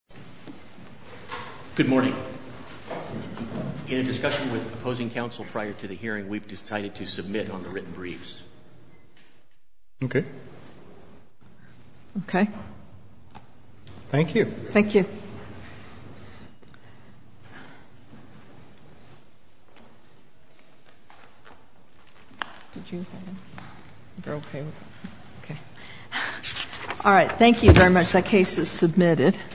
Good morning. In a discussion with opposing counsel prior to the hearing, we've decided to submit on the written briefs. Okay. Okay. Thank you. Thank you. All right. Thank you very much. That case is submitted.